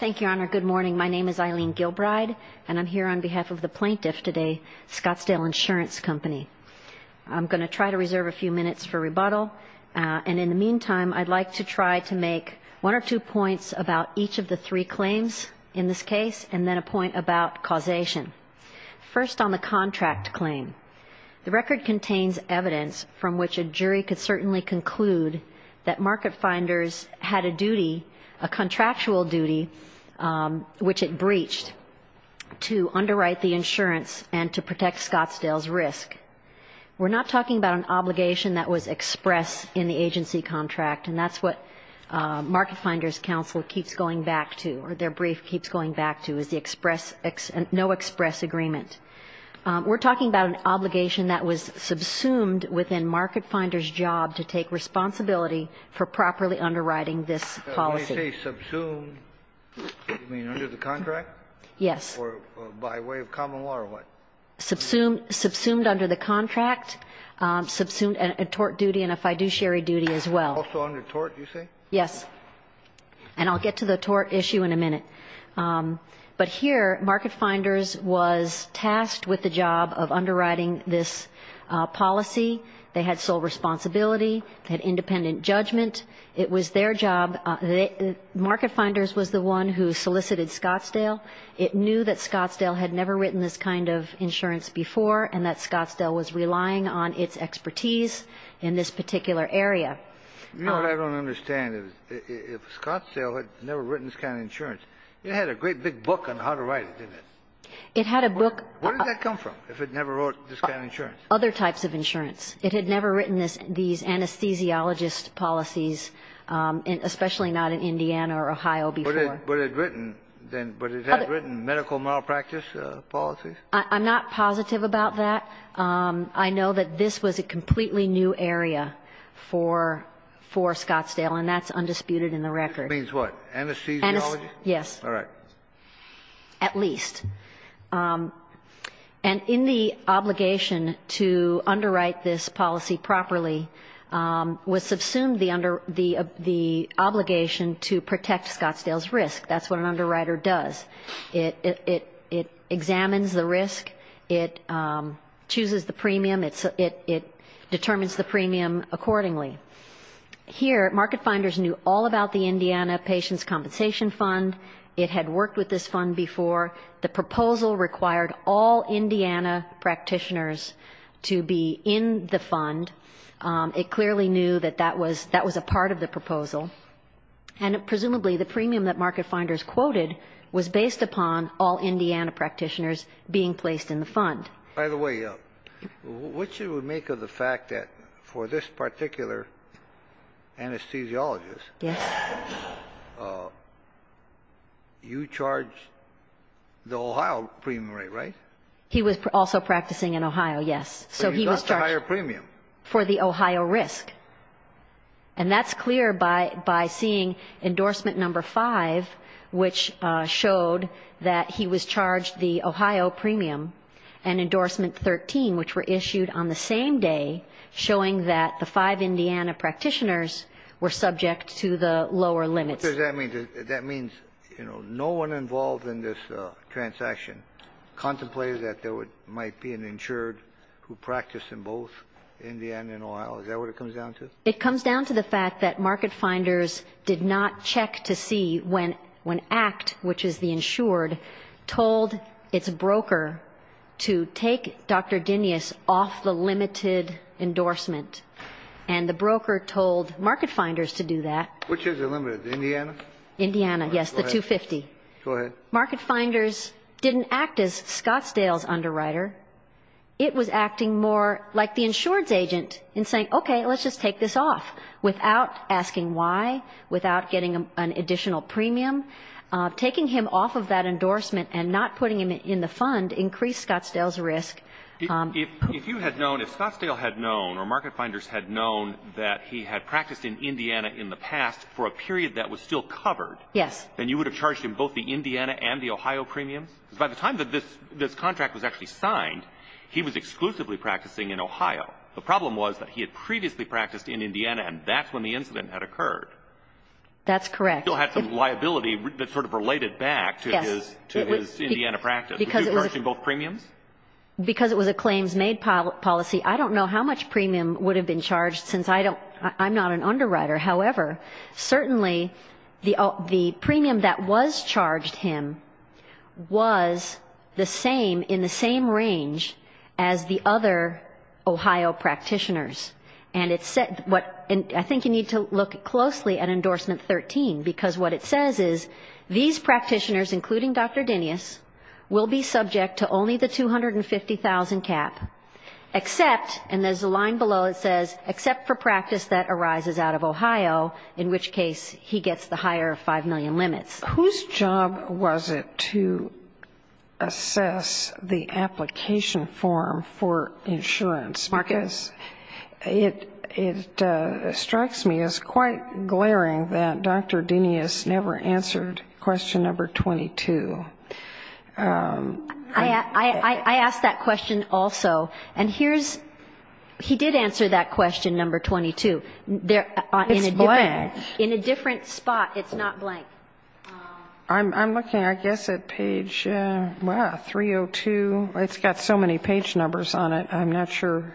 Thank you, Your Honor. Good morning. My name is Eileen Gilbride, and I'm here on behalf of the plaintiff today, Scottsdale Insurance Company. I'm going to try to reserve a few minutes for rebuttal, and in the meantime, I'd like to try to make one or two points about each of the three claims in this case, and then a point about causation. First, on the contract claim, the record contains evidence from which a jury could certainly conclude that Market Finders had a duty, a contractual duty, which it breached, to underwrite the insurance and to protect Scottsdale's risk. We're not talking about an obligation that was expressed in the agency contract, and that's what Market Finders counsel keeps going back to, or their brief keeps going back to, is the express, no express agreement. We're talking about an obligation that was subsumed within Market Finders' job to take responsibility for properly underwriting this policy. You mean under the contract? Yes. Or by way of common law, or what? Subsumed under the contract, subsumed a tort duty and a fiduciary duty as well. Also under tort, you say? Yes. And I'll get to the tort issue in a minute. But here, Market Finders was tasked with the job of underwriting this policy. They had sole responsibility. They had independent judgment. It was their job. Market Finders was the one who solicited Scottsdale. It knew that Scottsdale had never written this kind of insurance before, and that Scottsdale was relying on its expertise in this particular area. You know what I don't understand? If Scottsdale had never written this kind of insurance, it had a great big book on how to write it, didn't it? It had a book. Where did that come from, if it never wrote this kind of insurance? Other types of insurance. It had never written these anesthesiologist policies, especially not in Indiana or Ohio before. But it had written medical malpractice policies? I'm not positive about that. I know that this was a completely new area for Scottsdale, and that's undisputed in the record. It means what? Anesthesiology? Yes. All right. At least. And in the obligation to underwrite this policy properly was subsumed the obligation to protect Scottsdale's risk. That's what an underwriter does. It examines the risk. It chooses the premium. It determines the premium accordingly. Here, Market Finders knew all about the Indiana Patients' Compensation Fund. It had worked with this fund before. The proposal required all Indiana practitioners to be in the fund. It clearly knew that that was a part of the proposal, and presumably the premium that Market Finders quoted was based upon all Indiana practitioners being placed in the fund. By the way, what you would make of the fact that for this particular anesthesiologist, you charged the Ohio premium rate, right? He was also practicing in Ohio, yes. But he got the higher premium. For the Ohio risk. And that's clear by seeing endorsement number five, which showed that he was charged the Ohio premium, and endorsement 13, which were issued on the same day, showing that the five Indiana practitioners were subject to the lower limits. What does that mean? That means, you know, no one involved in this transaction contemplated that there might be an insured who practiced in both Indiana and Ohio. Is that what it comes down to? It comes down to the fact that Market Finders did not check to see when ACT, which is the insured, told its broker to take Dr. Dinius off the limited endorsement, and the broker told Market Finders to do that. Which is the limited? Indiana? Indiana, yes, the 250. Go ahead. Market Finders didn't act as Scottsdale's underwriter. It was acting more like the insurance agent in saying, okay, let's just take this off, without asking why, without getting an additional premium. Taking him off of that endorsement and not putting him in the fund increased Scottsdale's risk. If you had known, if Scottsdale had known, or Market Finders had known that he had practiced in Indiana in the past for a period that was still covered, then you would have charged him both the Indiana and the Ohio premiums? Because by the time that this contract was actually signed, he was exclusively practicing in Ohio. The problem was that he had previously practiced in Indiana, and that's when the incident had occurred. That's correct. He still had some liability that sort of related back to his Indiana practice. Would you charge him both premiums? Because it was a claims-made policy, I don't know how much premium would have been charged since I'm not an underwriter. However, certainly the premium that was charged him was the same, in the same range, as the other Ohio practitioners. And I think you need to look closely at Endorsement 13, because what it says is these practitioners, including Dr. Dinius, will be subject to only the $250,000 cap, except, and there's a line below that says, except for practice that arises out of Ohio, in which case he gets the higher 5 million limits. Whose job was it to assess the application form for insurance? It strikes me as quite glaring that Dr. Dinius never answered question number 22. I asked that question also. And here's he did answer that question, number 22. It's blank. In a different spot, it's not blank. I'm looking, I guess, at page 302. It's got so many page numbers on it, I'm not sure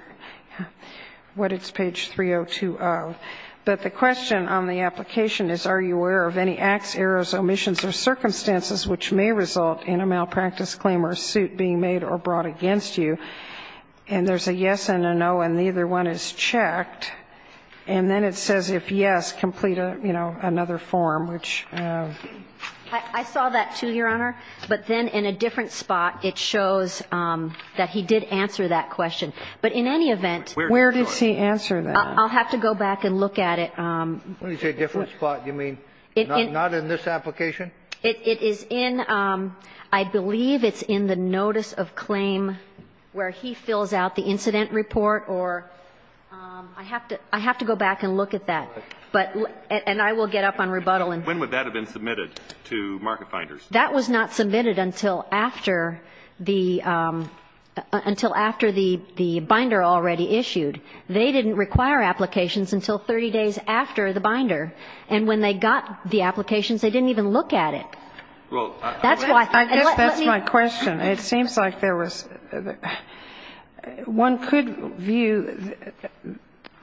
what it's page 3020. But the question on the application is, are you aware of any acts, errors, omissions, or circumstances which may result in a malpractice claim or suit being made or brought against you? And there's a yes and a no, and neither one is checked. And then it says, if yes, complete, you know, another form, which ---- I saw that, too, Your Honor. But then in a different spot, it shows that he did answer that question. But in any event ---- Where does he answer that? I'll have to go back and look at it. When you say different spot, you mean not in this application? It is in ---- I believe it's in the notice of claim where he fills out the incident report or ---- I have to go back and look at that. And I will get up on rebuttal. When would that have been submitted to Market Finders? That was not submitted until after the binder already issued. They didn't require applications until 30 days after the binder. And when they got the applications, they didn't even look at it. That's why ---- I guess that's my question. It seems like there was ---- one could view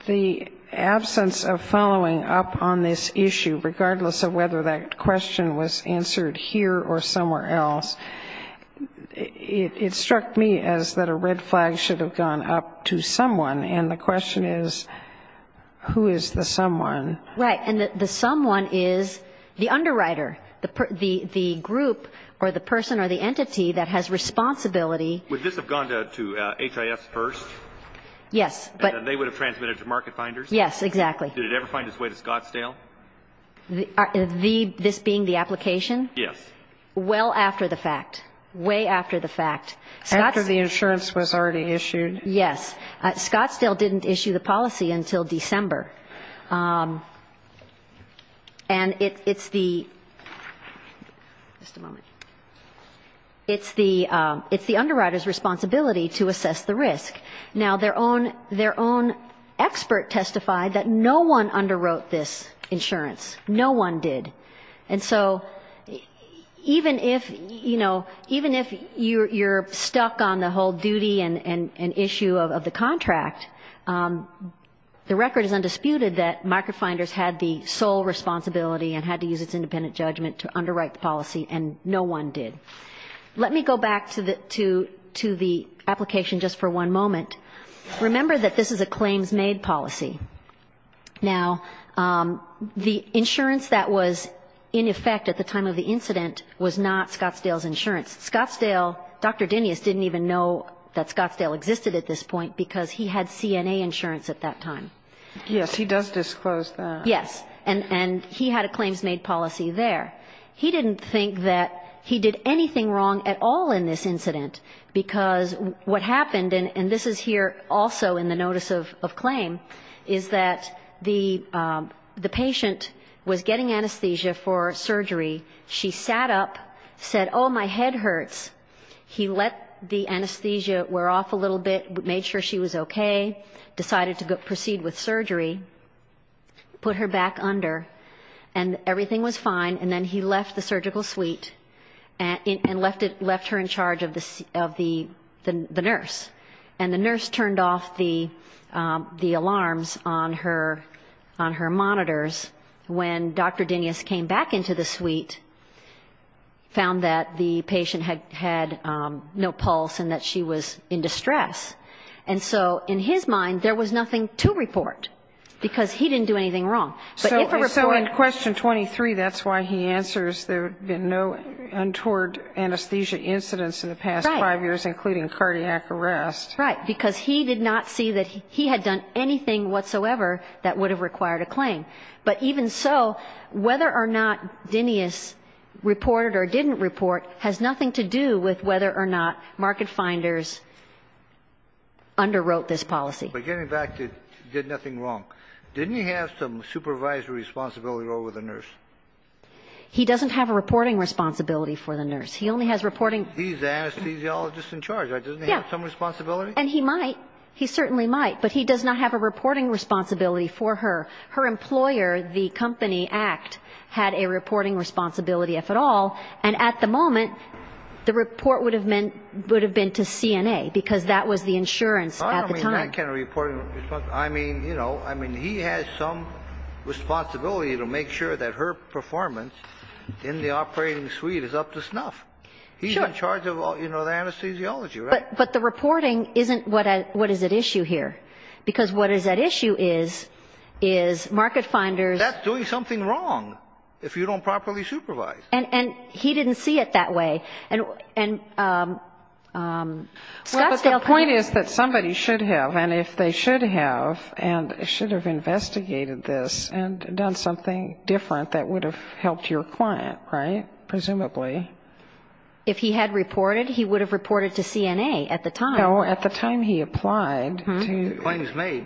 the absence of following up on this issue, regardless of whether that question was answered here or somewhere else. It struck me as that a red flag should have gone up to someone. And the question is, who is the someone? Right. And the someone is the underwriter, the group or the person or the entity that has responsibility. Would this have gone to HIS first? Yes. And they would have transmitted to Market Finders? Yes, exactly. Did it ever find its way to Scottsdale? This being the application? Yes. Well after the fact, way after the fact. After the insurance was already issued? Yes. Scottsdale didn't issue the policy until December. And it's the ---- just a moment. It's the underwriter's responsibility to assess the risk. Now, their own expert testified that no one underwrote this insurance. No one did. And so even if, you know, even if you're stuck on the whole duty and issue of the contract, the record is undisputed that Market Finders had the sole responsibility and had to use its independent judgment to underwrite the policy, and no one did. Let me go back to the application just for one moment. Remember that this is a claims-made policy. Now, the insurance that was in effect at the time of the incident was not Scottsdale's insurance. Scottsdale, Dr. Dinius didn't even know that Scottsdale existed at this point because he had CNA insurance at that time. Yes, he does disclose that. Yes. And he had a claims-made policy there. He didn't think that he did anything wrong at all in this incident because what happened, and this is here also in the notice of claim, is that the patient was getting anesthesia for surgery. She sat up, said, oh, my head hurts. He let the anesthesia wear off a little bit, made sure she was okay, decided to proceed with surgery, put her back under, and everything was fine, and then he left the surgical suite and left her in charge of the nurse. And the nurse turned off the alarms on her monitors when Dr. Dinius came back into the suite, found that the patient had no pulse and that she was in distress. And so in his mind, there was nothing to report because he didn't do anything wrong. So in question 23, that's why he answers there had been no untoward anesthesia incidents in the past five years, including cardiac arrest. Right, because he did not see that he had done anything whatsoever that would have required a claim. But even so, whether or not Dinius reported or didn't report has nothing to do with whether or not Market Finders underwrote this policy. But getting back to did nothing wrong, didn't he have some supervisory responsibility over the nurse? He doesn't have a reporting responsibility for the nurse. He only has reporting. He's an anesthesiologist in charge, doesn't he have some responsibility? And he might, he certainly might, but he does not have a reporting responsibility for her. Her employer, the company ACT, had a reporting responsibility, if at all, and at the moment, the report would have been to CNA, because that was the insurance at the time. I mean, you know, I mean, he has some responsibility to make sure that her performance in the operating suite is up to snuff. He's in charge of, you know, the anesthesiology, right? But the reporting isn't what is at issue here, because what is at issue is Market Finders. That's doing something wrong if you don't properly supervise. And he didn't see it that way. Well, but the point is that somebody should have, and if they should have, and should have investigated this and done something different that would have helped your client, right, presumably. If he had reported, he would have reported to CNA at the time. No, at the time he applied. Claims made.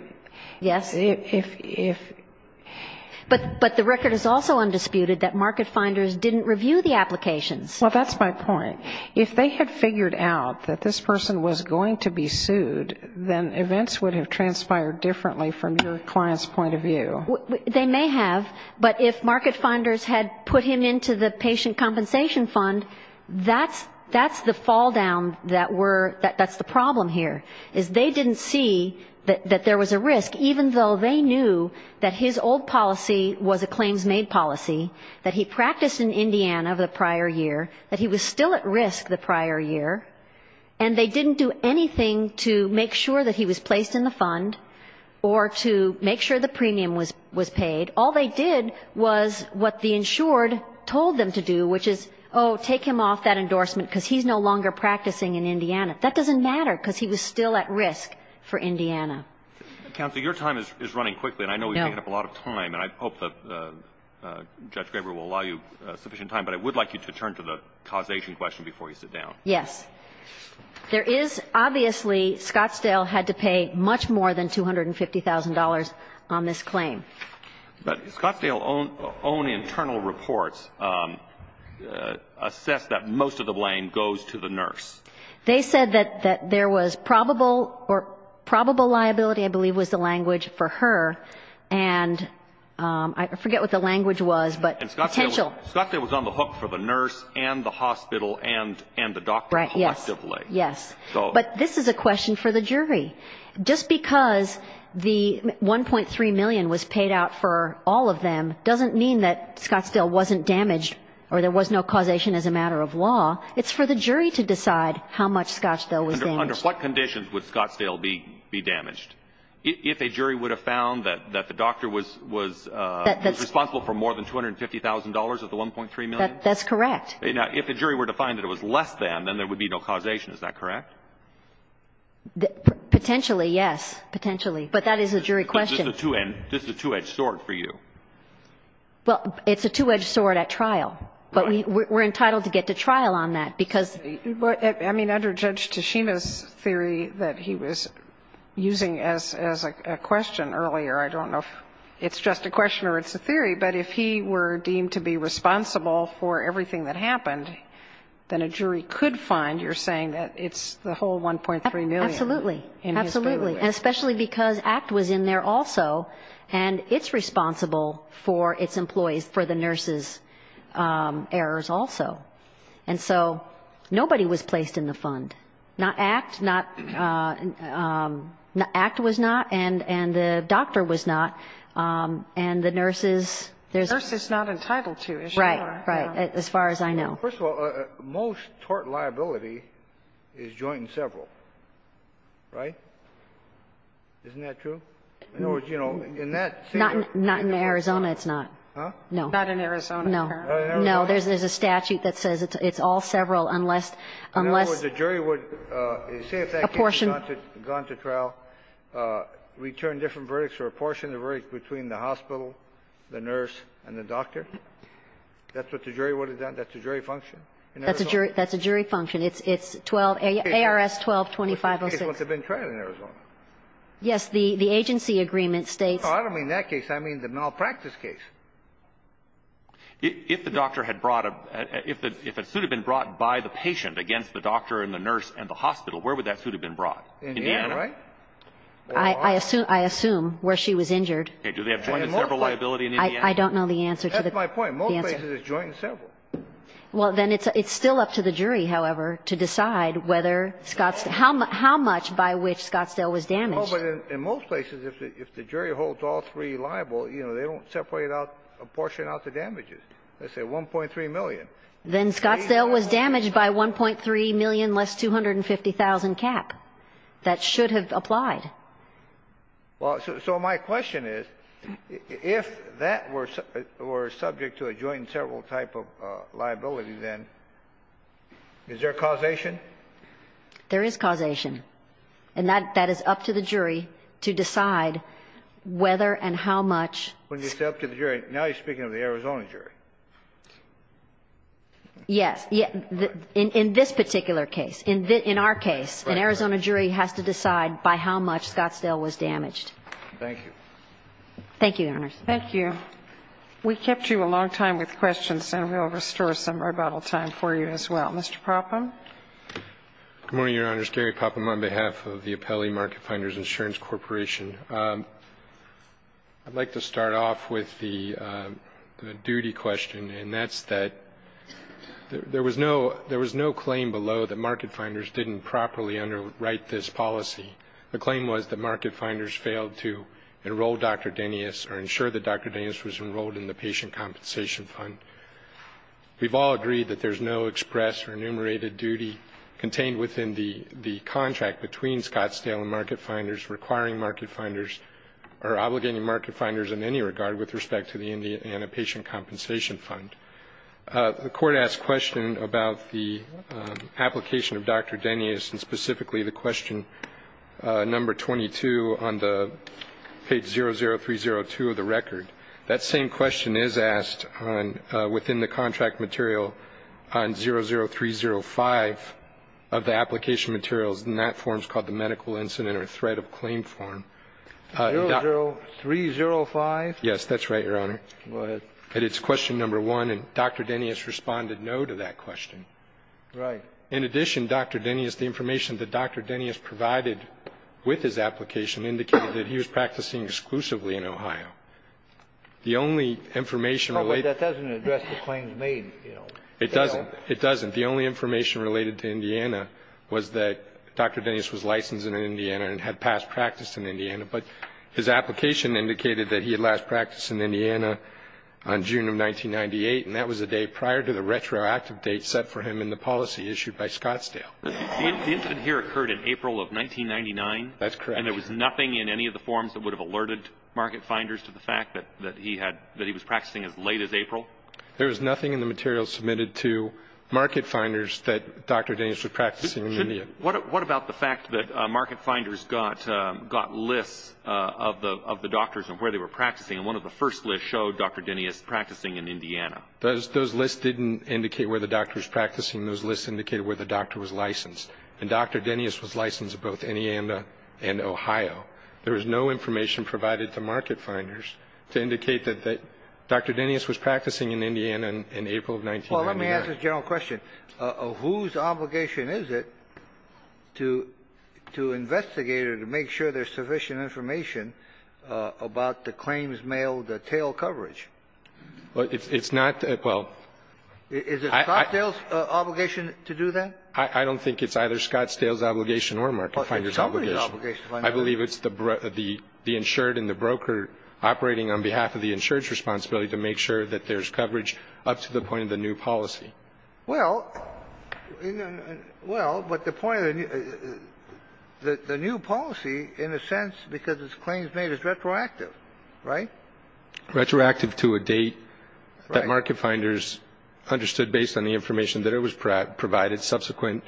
But the record is also undisputed that Market Finders didn't review the applications. Well, that's my point. If they had figured out that this person was going to be sued, then events would have transpired differently from your client's point of view. They may have, but if Market Finders had put him into the patient compensation fund, that's the falldown that we're, that's the problem here, is they didn't see that there was a risk, even though they knew that his old policy was a claims-made policy, that he practiced in Indiana the prior year, that he was still at risk the prior year, and they didn't do anything to make sure that he was placed in the fund or to make sure the premium was paid. All they did was what the insured told them to do, which is, oh, take him off that endorsement, because he's no longer practicing in Indiana. He was still at risk for Indiana. Counsel, your time is running quickly, and I know we've taken up a lot of time, and I hope that Judge Graber will allow you sufficient time, but I would like you to turn to the causation question before you sit down. Yes. There is, obviously, Scottsdale had to pay much more than $250,000 on this claim. But Scottsdale's own internal reports assess that most of the blame goes to the nurse. They said that there was probable liability, I believe was the language for her, and I forget what the language was, but Scottsdale was on the hook for the nurse and the hospital and the doctor collectively. Yes. But this is a question for the jury. Just because the $1.3 million was paid out for all of them doesn't mean that Scottsdale wasn't damaged or there was no causation as a matter of law. It's for the jury to decide how much Scottsdale was damaged. Under what conditions would Scottsdale be damaged? If a jury would have found that the doctor was responsible for more than $250,000 of the $1.3 million? That's correct. If a jury were to find that it was less than, then there would be no causation, is that correct? Potentially, yes, potentially, but that is a jury question. This is a two-edged sword for you. Well, it's a two-edged sword at trial. But we're entitled to get to trial on that, because I mean, under Judge Toshima's theory that he was using as a question earlier, I don't know if it's just a question or it's a theory, but if he were deemed to be responsible for everything that happened, then a jury could find, you're saying, that it's the whole $1.3 million? Absolutely, absolutely, and especially because ACT was in there also, and it's responsible for its employees, for the nurses' errors also. And so nobody was placed in the fund, not ACT. ACT was not, and the doctor was not, and the nurses. The nurse is not entitled to, is she? Right, right, as far as I know. Well, first of all, most tort liability is joint and several, right? Isn't that true? In other words, you know, in that case or in Arizona? Not in Arizona, it's not. Huh? No. Not in Arizona. No. Not in Arizona? No. There's a statute that says it's all several unless the jury would, say, if that case had gone to trial, return different verdicts or apportion the verdict between the hospital, the nurse, and the doctor. That's what the jury would have done. That's a jury function in Arizona? That's a jury function. It's 12, ARS 12-2506. Which case would have been tried in Arizona? Yes. The agency agreement states. No, I don't mean that case. I mean the malpractice case. If the doctor had brought a, if a suit had been brought by the patient against the doctor and the nurse and the hospital, where would that suit have been brought? Indiana, right? I assume where she was injured. Okay. Do they have joint and several liability in Indiana? I don't know the answer to that. That's my point. In most places it's joint and several. Well, then it's still up to the jury, however, to decide whether Scott's, how much by which Scottsdale was damaged. Oh, but in most places, if the jury holds all three liable, you know, they don't separate out, apportion out the damages. Let's say 1.3 million. Then Scottsdale was damaged by 1.3 million less 250,000 cap. That should have applied. Well, so my question is, if that were subject to a joint and several type of liability, then is there causation? There is causation. And that is up to the jury to decide whether and how much. When you say up to the jury, now you're speaking of the Arizona jury. Yes. In this particular case. In our case, an Arizona jury has to decide by how much Scottsdale was damaged. Thank you. Thank you, Your Honors. Thank you. We kept you a long time with questions, and we'll restore some rebuttal time for you as well. Mr. Popham. Good morning, Your Honors. Gary Popham on behalf of the Appellee Market Finders Insurance Corporation. I'd like to start off with the duty question, and that's that there was no claim below that market finders didn't properly underwrite this policy. The claim was that market finders failed to enroll Dr. Denius or ensure that Dr. Denius was enrolled in the patient compensation fund. We've all agreed that there's no express or enumerated duty contained within the contract between Scottsdale and market finders requiring market finders or obligating market finders in any regard with respect to the Indiana patient compensation fund. The court asked a question about the application of Dr. Denius and specifically the question number 22 on the page 00302 of the record. That same question is asked within the contract material on 00305 of the application materials, and that form is called the medical incident or threat of claim form. 00305? Go ahead. That it's question number one, and Dr. Denius responded no to that question. Right. In addition, Dr. Denius, the information that Dr. Denius provided with his application indicated that he was practicing exclusively in Ohio. The only information related to that. Oh, but that doesn't address the claims made, you know. It doesn't. It doesn't. The only information related to Indiana was that Dr. Denius was licensed in Indiana and had past practice in Indiana, but his application indicated that he had last practiced in Indiana on June of 1998, and that was a day prior to the retroactive date set for him in the policy issued by Scottsdale. The incident here occurred in April of 1999. That's correct. And there was nothing in any of the forms that would have alerted market finders to the fact that he was practicing as late as April? There was nothing in the materials submitted to market finders that Dr. Denius was practicing in India. What about the fact that market finders got lists of the doctors and where they were practicing, and one of the first lists showed Dr. Denius practicing in Indiana? Those lists didn't indicate where the doctor was practicing. Those lists indicated where the doctor was licensed. And Dr. Denius was licensed in both Indiana and Ohio. There was no information provided to market finders to indicate that Dr. Denius was practicing in Indiana in April of 1999. Well, let me ask this general question. Whose obligation is it to investigate or to make sure there's sufficient information about the claims mailed tail coverage? It's not, well ---- Is it Scottsdale's obligation to do that? I don't think it's either Scottsdale's obligation or market finder's obligation. I believe it's the insured and the broker operating on behalf of the insured's responsibility to make sure that there's coverage up to the point of the new policy. Well, but the point of the new policy, in a sense, because it's claims made, is retroactive, right? Retroactive to a date that market finders understood based on the information that it was provided, subsequent.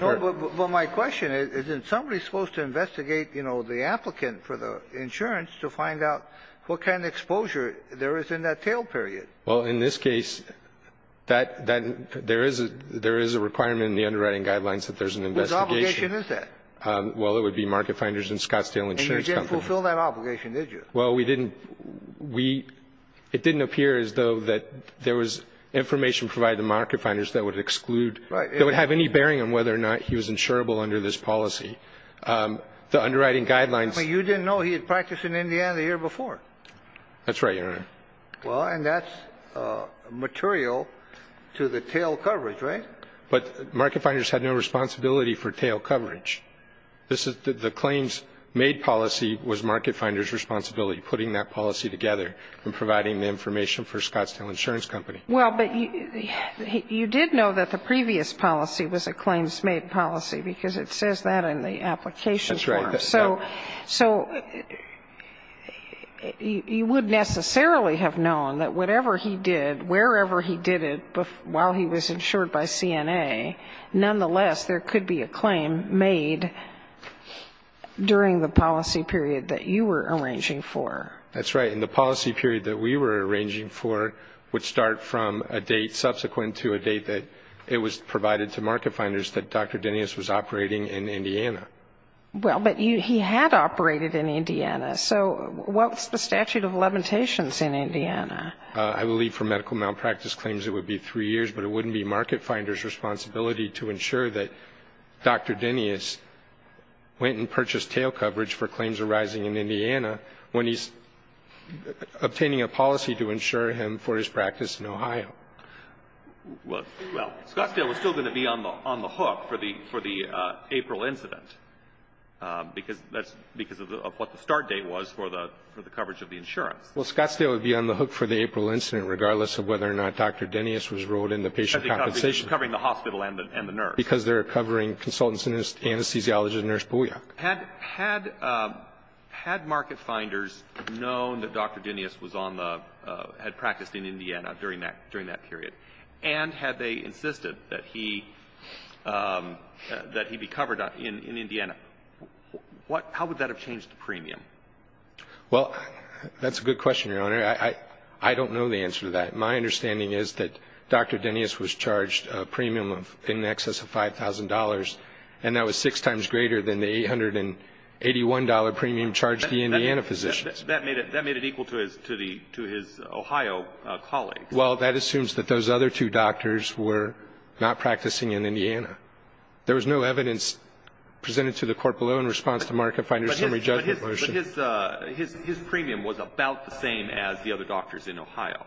No, but my question is, isn't somebody supposed to investigate, you know, the applicant for the insurance to find out what kind of exposure there is in that tail period? Well, in this case, there is a requirement in the underwriting guidelines that there's an investigation. Whose obligation is that? Well, it would be market finders and Scottsdale Insurance Company. And you didn't fulfill that obligation, did you? Well, we didn't. It didn't appear as though that there was information provided to market finders that would exclude, that would have any bearing on whether or not he was insurable under this policy. The underwriting guidelines ---- I mean, you didn't know he had practiced in Indiana the year before. That's right, Your Honor. Well, and that's material to the tail coverage, right? But market finders had no responsibility for tail coverage. The claims made policy was market finders' responsibility, putting that policy together and providing the information for Scottsdale Insurance Company. Well, but you did know that the previous policy was a claims made policy, That's right. so you wouldn't necessarily have known that whatever he did, wherever he did it while he was insured by CNA, nonetheless there could be a claim made during the policy period that you were arranging for. That's right. And the policy period that we were arranging for would start from a date subsequent to a date that it was provided to market finders that Dr. Dennis was operating in Indiana. Well, but he had operated in Indiana. So what's the statute of limitations in Indiana? I believe for medical malpractice claims it would be three years, but it wouldn't be market finders' responsibility to ensure that Dr. Dennis went and purchased tail coverage for claims arising in Indiana when he's obtaining a policy to insure him for his practice in Ohio. Well, Scottsdale was still going to be on the hook for the April incident because of what the start date was for the coverage of the insurance. Well, Scottsdale would be on the hook for the April incident, regardless of whether or not Dr. Dennis was enrolled in the patient compensation. Because they're covering the hospital and the nurse. Because they're covering consultants and anesthesiologists and Nurse Boyack. Had market finders known that Dr. Dennis had practiced in Indiana during that period and had they insisted that he be covered in Indiana, how would that have changed the premium? Well, that's a good question, Your Honor. I don't know the answer to that. My understanding is that Dr. Dennis was charged a premium in excess of $5,000, and that was six times greater than the $881 premium charged to the Indiana physicians. That made it equal to his Ohio colleagues. Well, that assumes that those other two doctors were not practicing in Indiana. There was no evidence presented to the court below in response to market finders' summary judgment motion. But his premium was about the same as the other doctors in Ohio.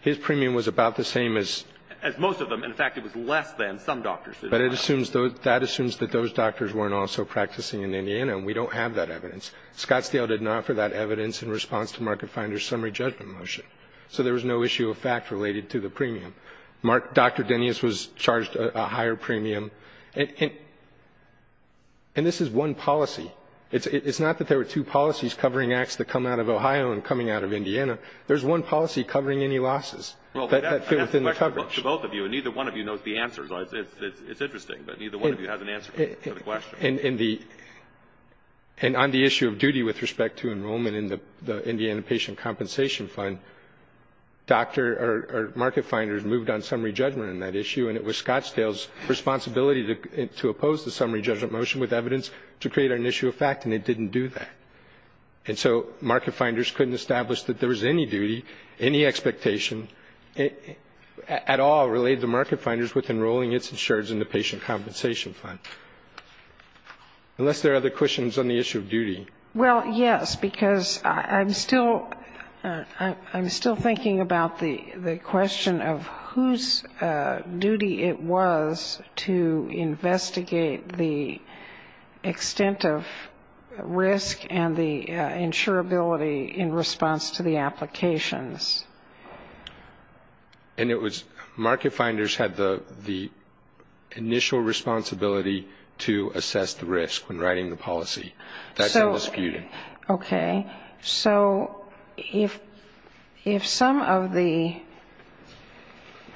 His premium was about the same as the other doctors in Ohio. As most of them. In fact, it was less than some doctors in Ohio. But that assumes that those doctors weren't also practicing in Indiana, and we don't have that evidence. Scottsdale did not offer that evidence in response to market finders' summary judgment motion. So there was no issue of fact related to the premium. Dr. Dennis was charged a higher premium. And this is one policy. It's not that there were two policies covering acts that come out of Ohio and coming out of Indiana. There's one policy covering any losses that fit within the coverage. To both of you, and neither one of you knows the answer. It's interesting, but neither one of you has an answer to the question. And on the issue of duty with respect to enrollment in the Indiana patient compensation fund, market finders moved on summary judgment on that issue, and it was Scottsdale's responsibility to oppose the summary judgment motion with evidence to create an issue of fact, and it didn't do that. And so market finders couldn't establish that there was any duty, any expectation at all related to market finders with enrolling its insurers in the patient compensation fund. Unless there are other questions on the issue of duty. Well, yes, because I'm still thinking about the question of whose duty it was to investigate the extent of risk and the insurability in response to the applications. And it was market finders had the initial responsibility to assess the risk when writing the policy. That's what was skewed. Okay. So if some of the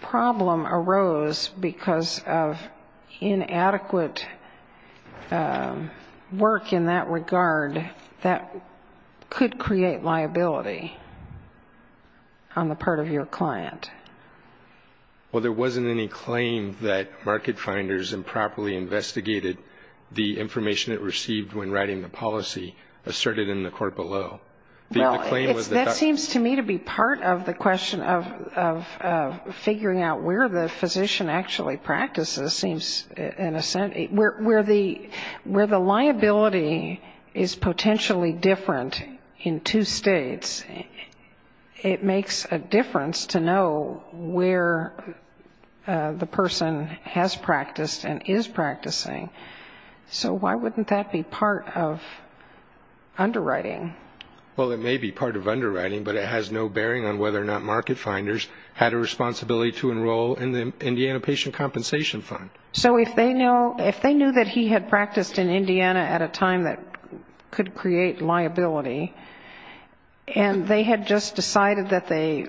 problem arose because of inadequate work in that regard, that could create liability on the part of your client. Well, there wasn't any claim that market finders improperly investigated the information it received when writing the policy asserted in the court below. Well, that seems to me to be part of the question of figuring out where the physician actually practices, seems in a sense, where the liability is potentially different in two states. It makes a difference to know where the person has practiced and is practicing. So why wouldn't that be part of underwriting? Well, it may be part of underwriting, but it has no bearing on whether or not market finders had a responsibility to enroll in the Indiana patient compensation fund. So if they knew that he had practiced in Indiana at a time that could create liability, and they had just decided that they,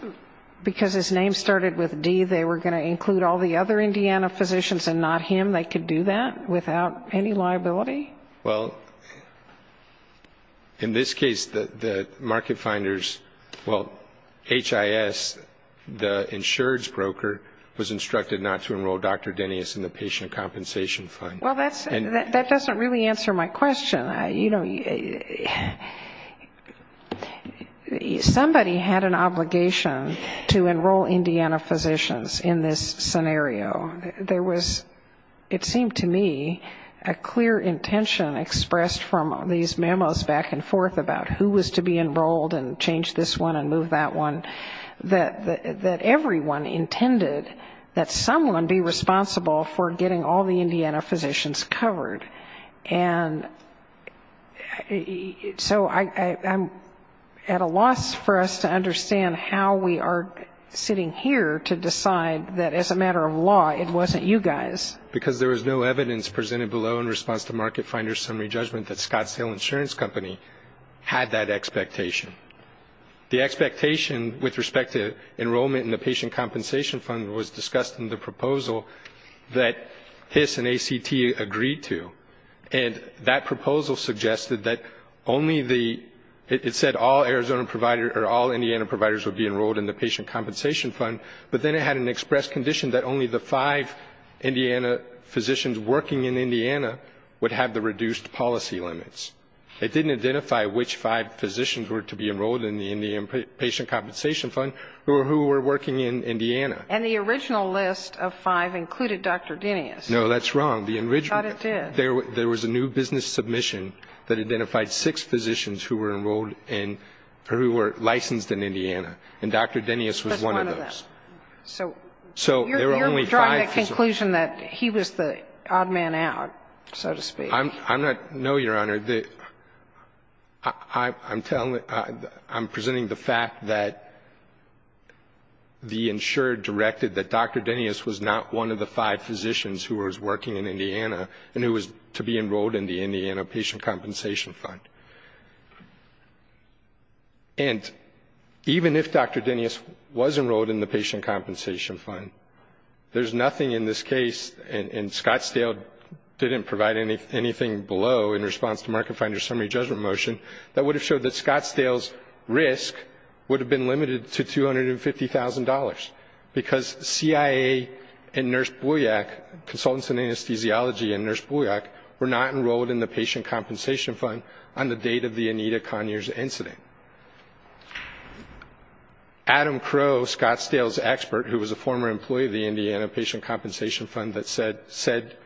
because his name started with D, they were going to include all the other Indiana physicians and not him, they could do that without any liability? Well, in this case, the market finders, well, HIS, the insurance broker, was instructed not to enroll Dr. Dennis in the patient compensation fund. Well, that doesn't really answer my question. You know, somebody had an obligation to enroll Indiana physicians in this scenario. There was, it seemed to me, a clear intention expressed from these memos back and forth about who was to be enrolled and change this one and move that one, that everyone intended that someone be responsible for getting all the Indiana physicians covered. And so I'm at a loss for us to understand how we are sitting here to decide that as a matter of law it wasn't you guys. Because there was no evidence presented below in response to market finders' summary judgment that Scottsdale Insurance Company had that expectation. The expectation with respect to enrollment in the patient compensation fund was discussed in the proposal that HIS and ACT agreed to. And that proposal suggested that only the, it said all Arizona providers or all Indiana providers would be enrolled in the patient compensation fund, but then it had an express condition that only the five Indiana physicians working in Indiana would have the reduced policy limits. It didn't identify which five physicians were to be enrolled in the patient compensation fund who were working in Indiana. And the original list of five included Dr. Denius. No, that's wrong. I thought it did. There was a new business submission that identified six physicians who were enrolled in, who were licensed in Indiana. And Dr. Denius was one of those. So you're drawing the conclusion that he was the odd man out, so to speak. I'm not, no, Your Honor. I'm telling, I'm presenting the fact that the insurer directed that Dr. Denius was not one of the five physicians who was working in Indiana and who was to be enrolled in the Indiana patient compensation fund. And even if Dr. Denius was enrolled in the patient compensation fund, there's nothing in this case, and Scottsdale didn't provide anything below in response to Market Finder's summary judgment motion that would have showed that Scottsdale's risk would have been limited to $250,000 because CIA and Nurse Bulyak, consultants in anesthesiology and Nurse Bulyak, were not enrolled in the patient compensation fund on the date of the Anita Conyers incident. Adam Crow, Scottsdale's expert, who was a former employee of the Indiana patient compensation fund, said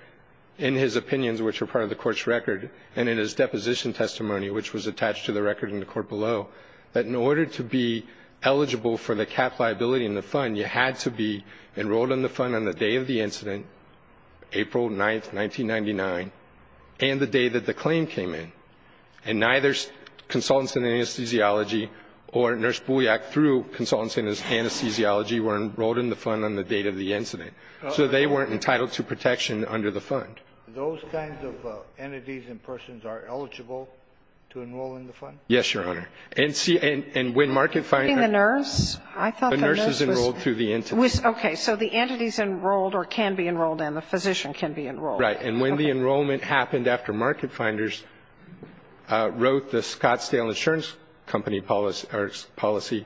in his opinions, which were part of the court's record, and in his deposition testimony, which was attached to the record in the court below, that in order to be eligible for the cap liability in the fund, you had to be enrolled in the fund on the day of the incident, April 9, 1999, and the day that the claim came in. And neither consultants in anesthesiology or Nurse Bulyak through consultants in anesthesiology were enrolled in the fund on the date of the incident. So they weren't entitled to protection under the fund. Those kinds of entities and persons are eligible to enroll in the fund? Yes, Your Honor. And when Market Finder ---- Including the nurse? I thought the nurse was ---- The nurse is enrolled through the entity. Okay. So the entity is enrolled or can be enrolled and the physician can be enrolled. Right. And when the enrollment happened after Market Finders wrote the Scottsdale Insurance Company policy,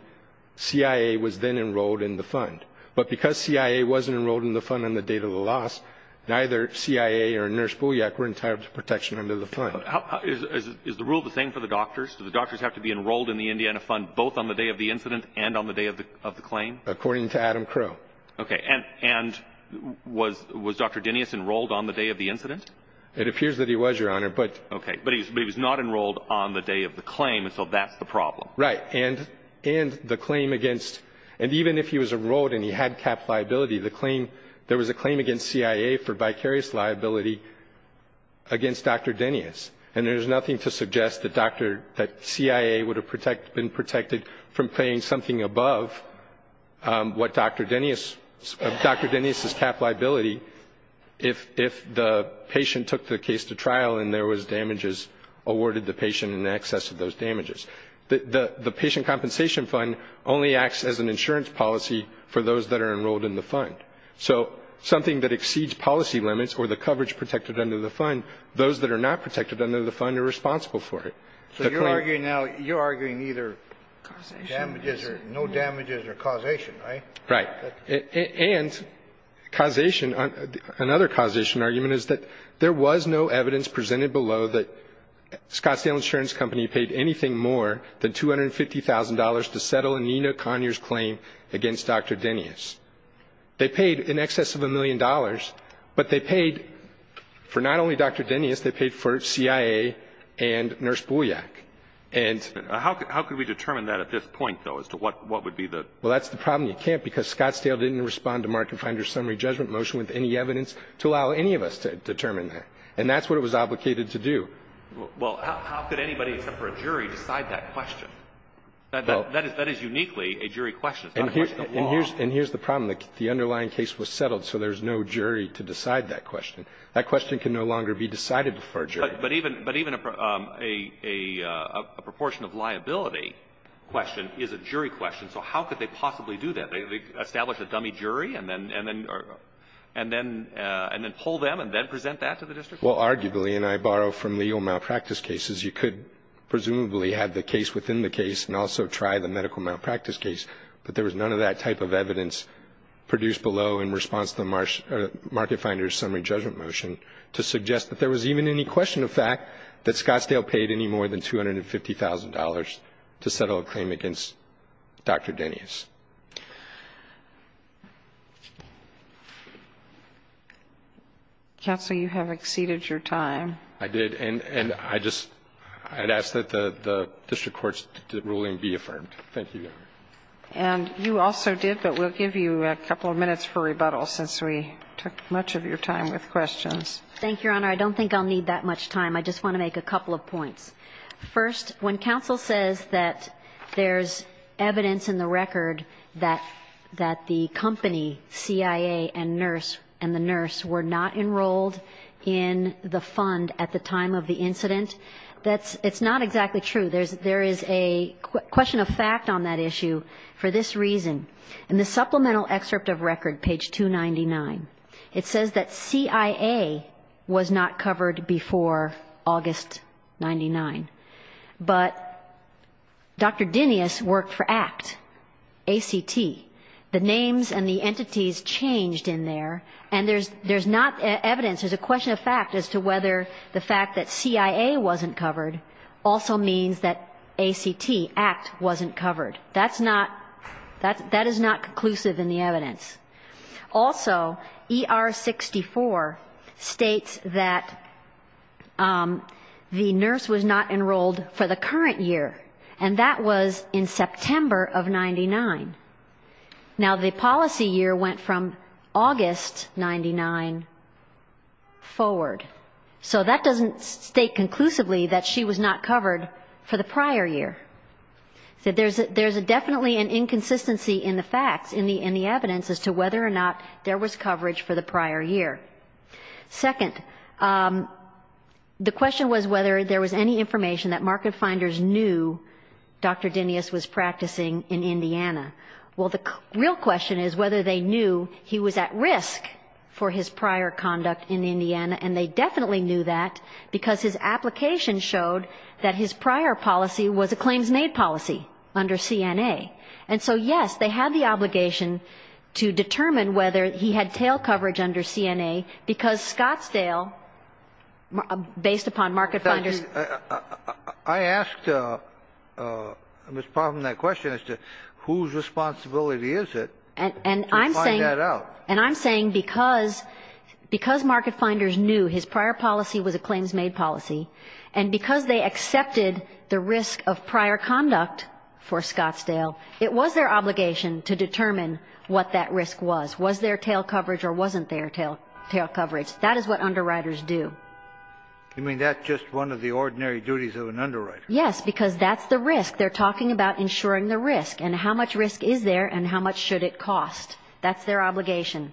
CIA was then enrolled in the fund. But because CIA wasn't enrolled in the fund on the date of the loss, neither CIA or Nurse Bulyak were entitled to protection under the fund. Is the rule the same for the doctors? Do the doctors have to be enrolled in the Indiana fund both on the day of the incident and on the day of the claim? According to Adam Crow. Okay. And was Dr. Denius enrolled on the day of the incident? It appears that he was, Your Honor, but ---- Okay. But he was not enrolled on the day of the claim, so that's the problem. Right. And the claim against ---- And even if he was enrolled and he had cap liability, there was a claim against CIA for vicarious liability against Dr. Denius. Dr. Denius' cap liability if the patient took the case to trial and there was damages awarded the patient in excess of those damages. The patient compensation fund only acts as an insurance policy for those that are enrolled in the fund. So something that exceeds policy limits or the coverage protected under the fund, those that are not protected under the fund are responsible for it. So you're arguing now, you're arguing either damages or no damages or causation, right? Right. And causation, another causation argument is that there was no evidence presented below that Scottsdale Insurance Company paid anything more than $250,000 to settle Anita Conyers' claim against Dr. Denius. They paid in excess of a million dollars, but they paid for not only Dr. Denius, they paid for CIA and Nurse Bolyak. How could we determine that at this point, though, as to what would be the ---- Well, that's the problem. You can't, because Scottsdale didn't respond to Mark and Finder's summary judgment motion with any evidence to allow any of us to determine that. And that's what it was obligated to do. Well, how could anybody except for a jury decide that question? That is uniquely a jury question. It's not a question of law. And here's the problem. The underlying case was settled, so there's no jury to decide that question. That question can no longer be decided before a jury. But even a proportion of liability question is a jury question. So how could they possibly do that? Establish a dummy jury and then pull them and then present that to the district? Well, arguably, and I borrow from legal malpractice cases, you could presumably have the case within the case and also try the medical malpractice case. But there was none of that type of evidence produced below in response to the Mark and Finder's summary judgment motion to suggest that there was even any question of fact that Scottsdale paid any more than $250,000 to settle a claim against Dr. Denny's. Counsel, you have exceeded your time. I did. And I just ask that the district court's ruling be affirmed. Thank you, Your Honor. And you also did, but we'll give you a couple of minutes for rebuttal since we took much of your time with questions. Thank you, Your Honor. I don't think I'll need that much time. I just want to make a couple of points. First, when counsel says that there's evidence in the record that the company, CIA, and the nurse were not enrolled in the fund at the time of the incident, it's not exactly true. There is a question of fact on that issue for this reason. In the supplemental excerpt of record, page 299, it says that CIA was not covered before August 99, but Dr. Denny's worked for ACT, A-C-T. The names and the entities changed in there, and there's not evidence. There's a question of fact as to whether the fact that CIA wasn't covered also means that A-C-T, ACT, wasn't covered. That is not conclusive in the evidence. Also, ER-64 states that the nurse was not enrolled for the current year, and that was in September of 99. Now, the policy year went from August 99 forward. So that doesn't state conclusively that she was not covered for the prior year. So there's definitely an inconsistency in the facts, in the evidence, as to whether or not there was coverage for the prior year. Second, the question was whether there was any information that market finders knew Dr. Denny's was practicing in Indiana. Well, the real question is whether they knew he was at risk for his prior conduct in Indiana, and they definitely knew that because his application showed that his prior policy was a claims-made policy under CNA. And so, yes, they had the obligation to determine whether he had tail coverage under CNA because Scottsdale, based upon market finders I asked Ms. Parham that question as to whose responsibility is it to find that out. And I'm saying because market finders knew his prior policy was a claims-made policy, and because they accepted the risk of prior conduct for Scottsdale, it was their obligation to determine what that risk was. Was there tail coverage or wasn't there tail coverage? That is what underwriters do. You mean that's just one of the ordinary duties of an underwriter? Yes, because that's the risk. They're talking about ensuring the risk and how much risk is there and how much should it cost. That's their obligation.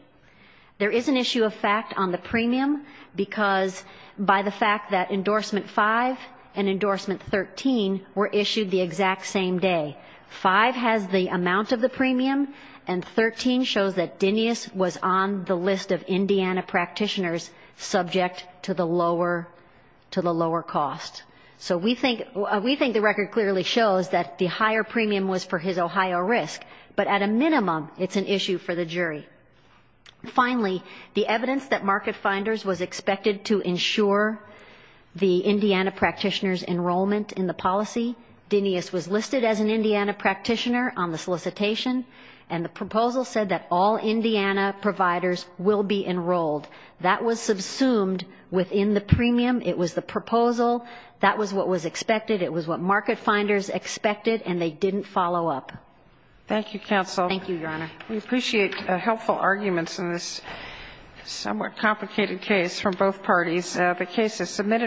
There is an issue of fact on the premium because by the fact that Endorsement 5 and Endorsement 13 were issued the exact same day. 5 has the amount of the premium, and 13 shows that Dinius was on the list of Indiana practitioners subject to the lower cost. So we think the record clearly shows that the higher premium was for his Ohio risk, but at a minimum it's an issue for the jury. Finally, the evidence that market finders was expected to ensure the Indiana practitioners' enrollment in the policy, Dinius was listed as an Indiana practitioner on the solicitation, and the proposal said that all Indiana providers will be enrolled. That was subsumed within the premium. It was the proposal. That was what was expected. It was what market finders expected, and they didn't follow up. Thank you, counsel. Thank you, Your Honor. We appreciate helpful arguments in this somewhat complicated case from both parties. The case is submitted.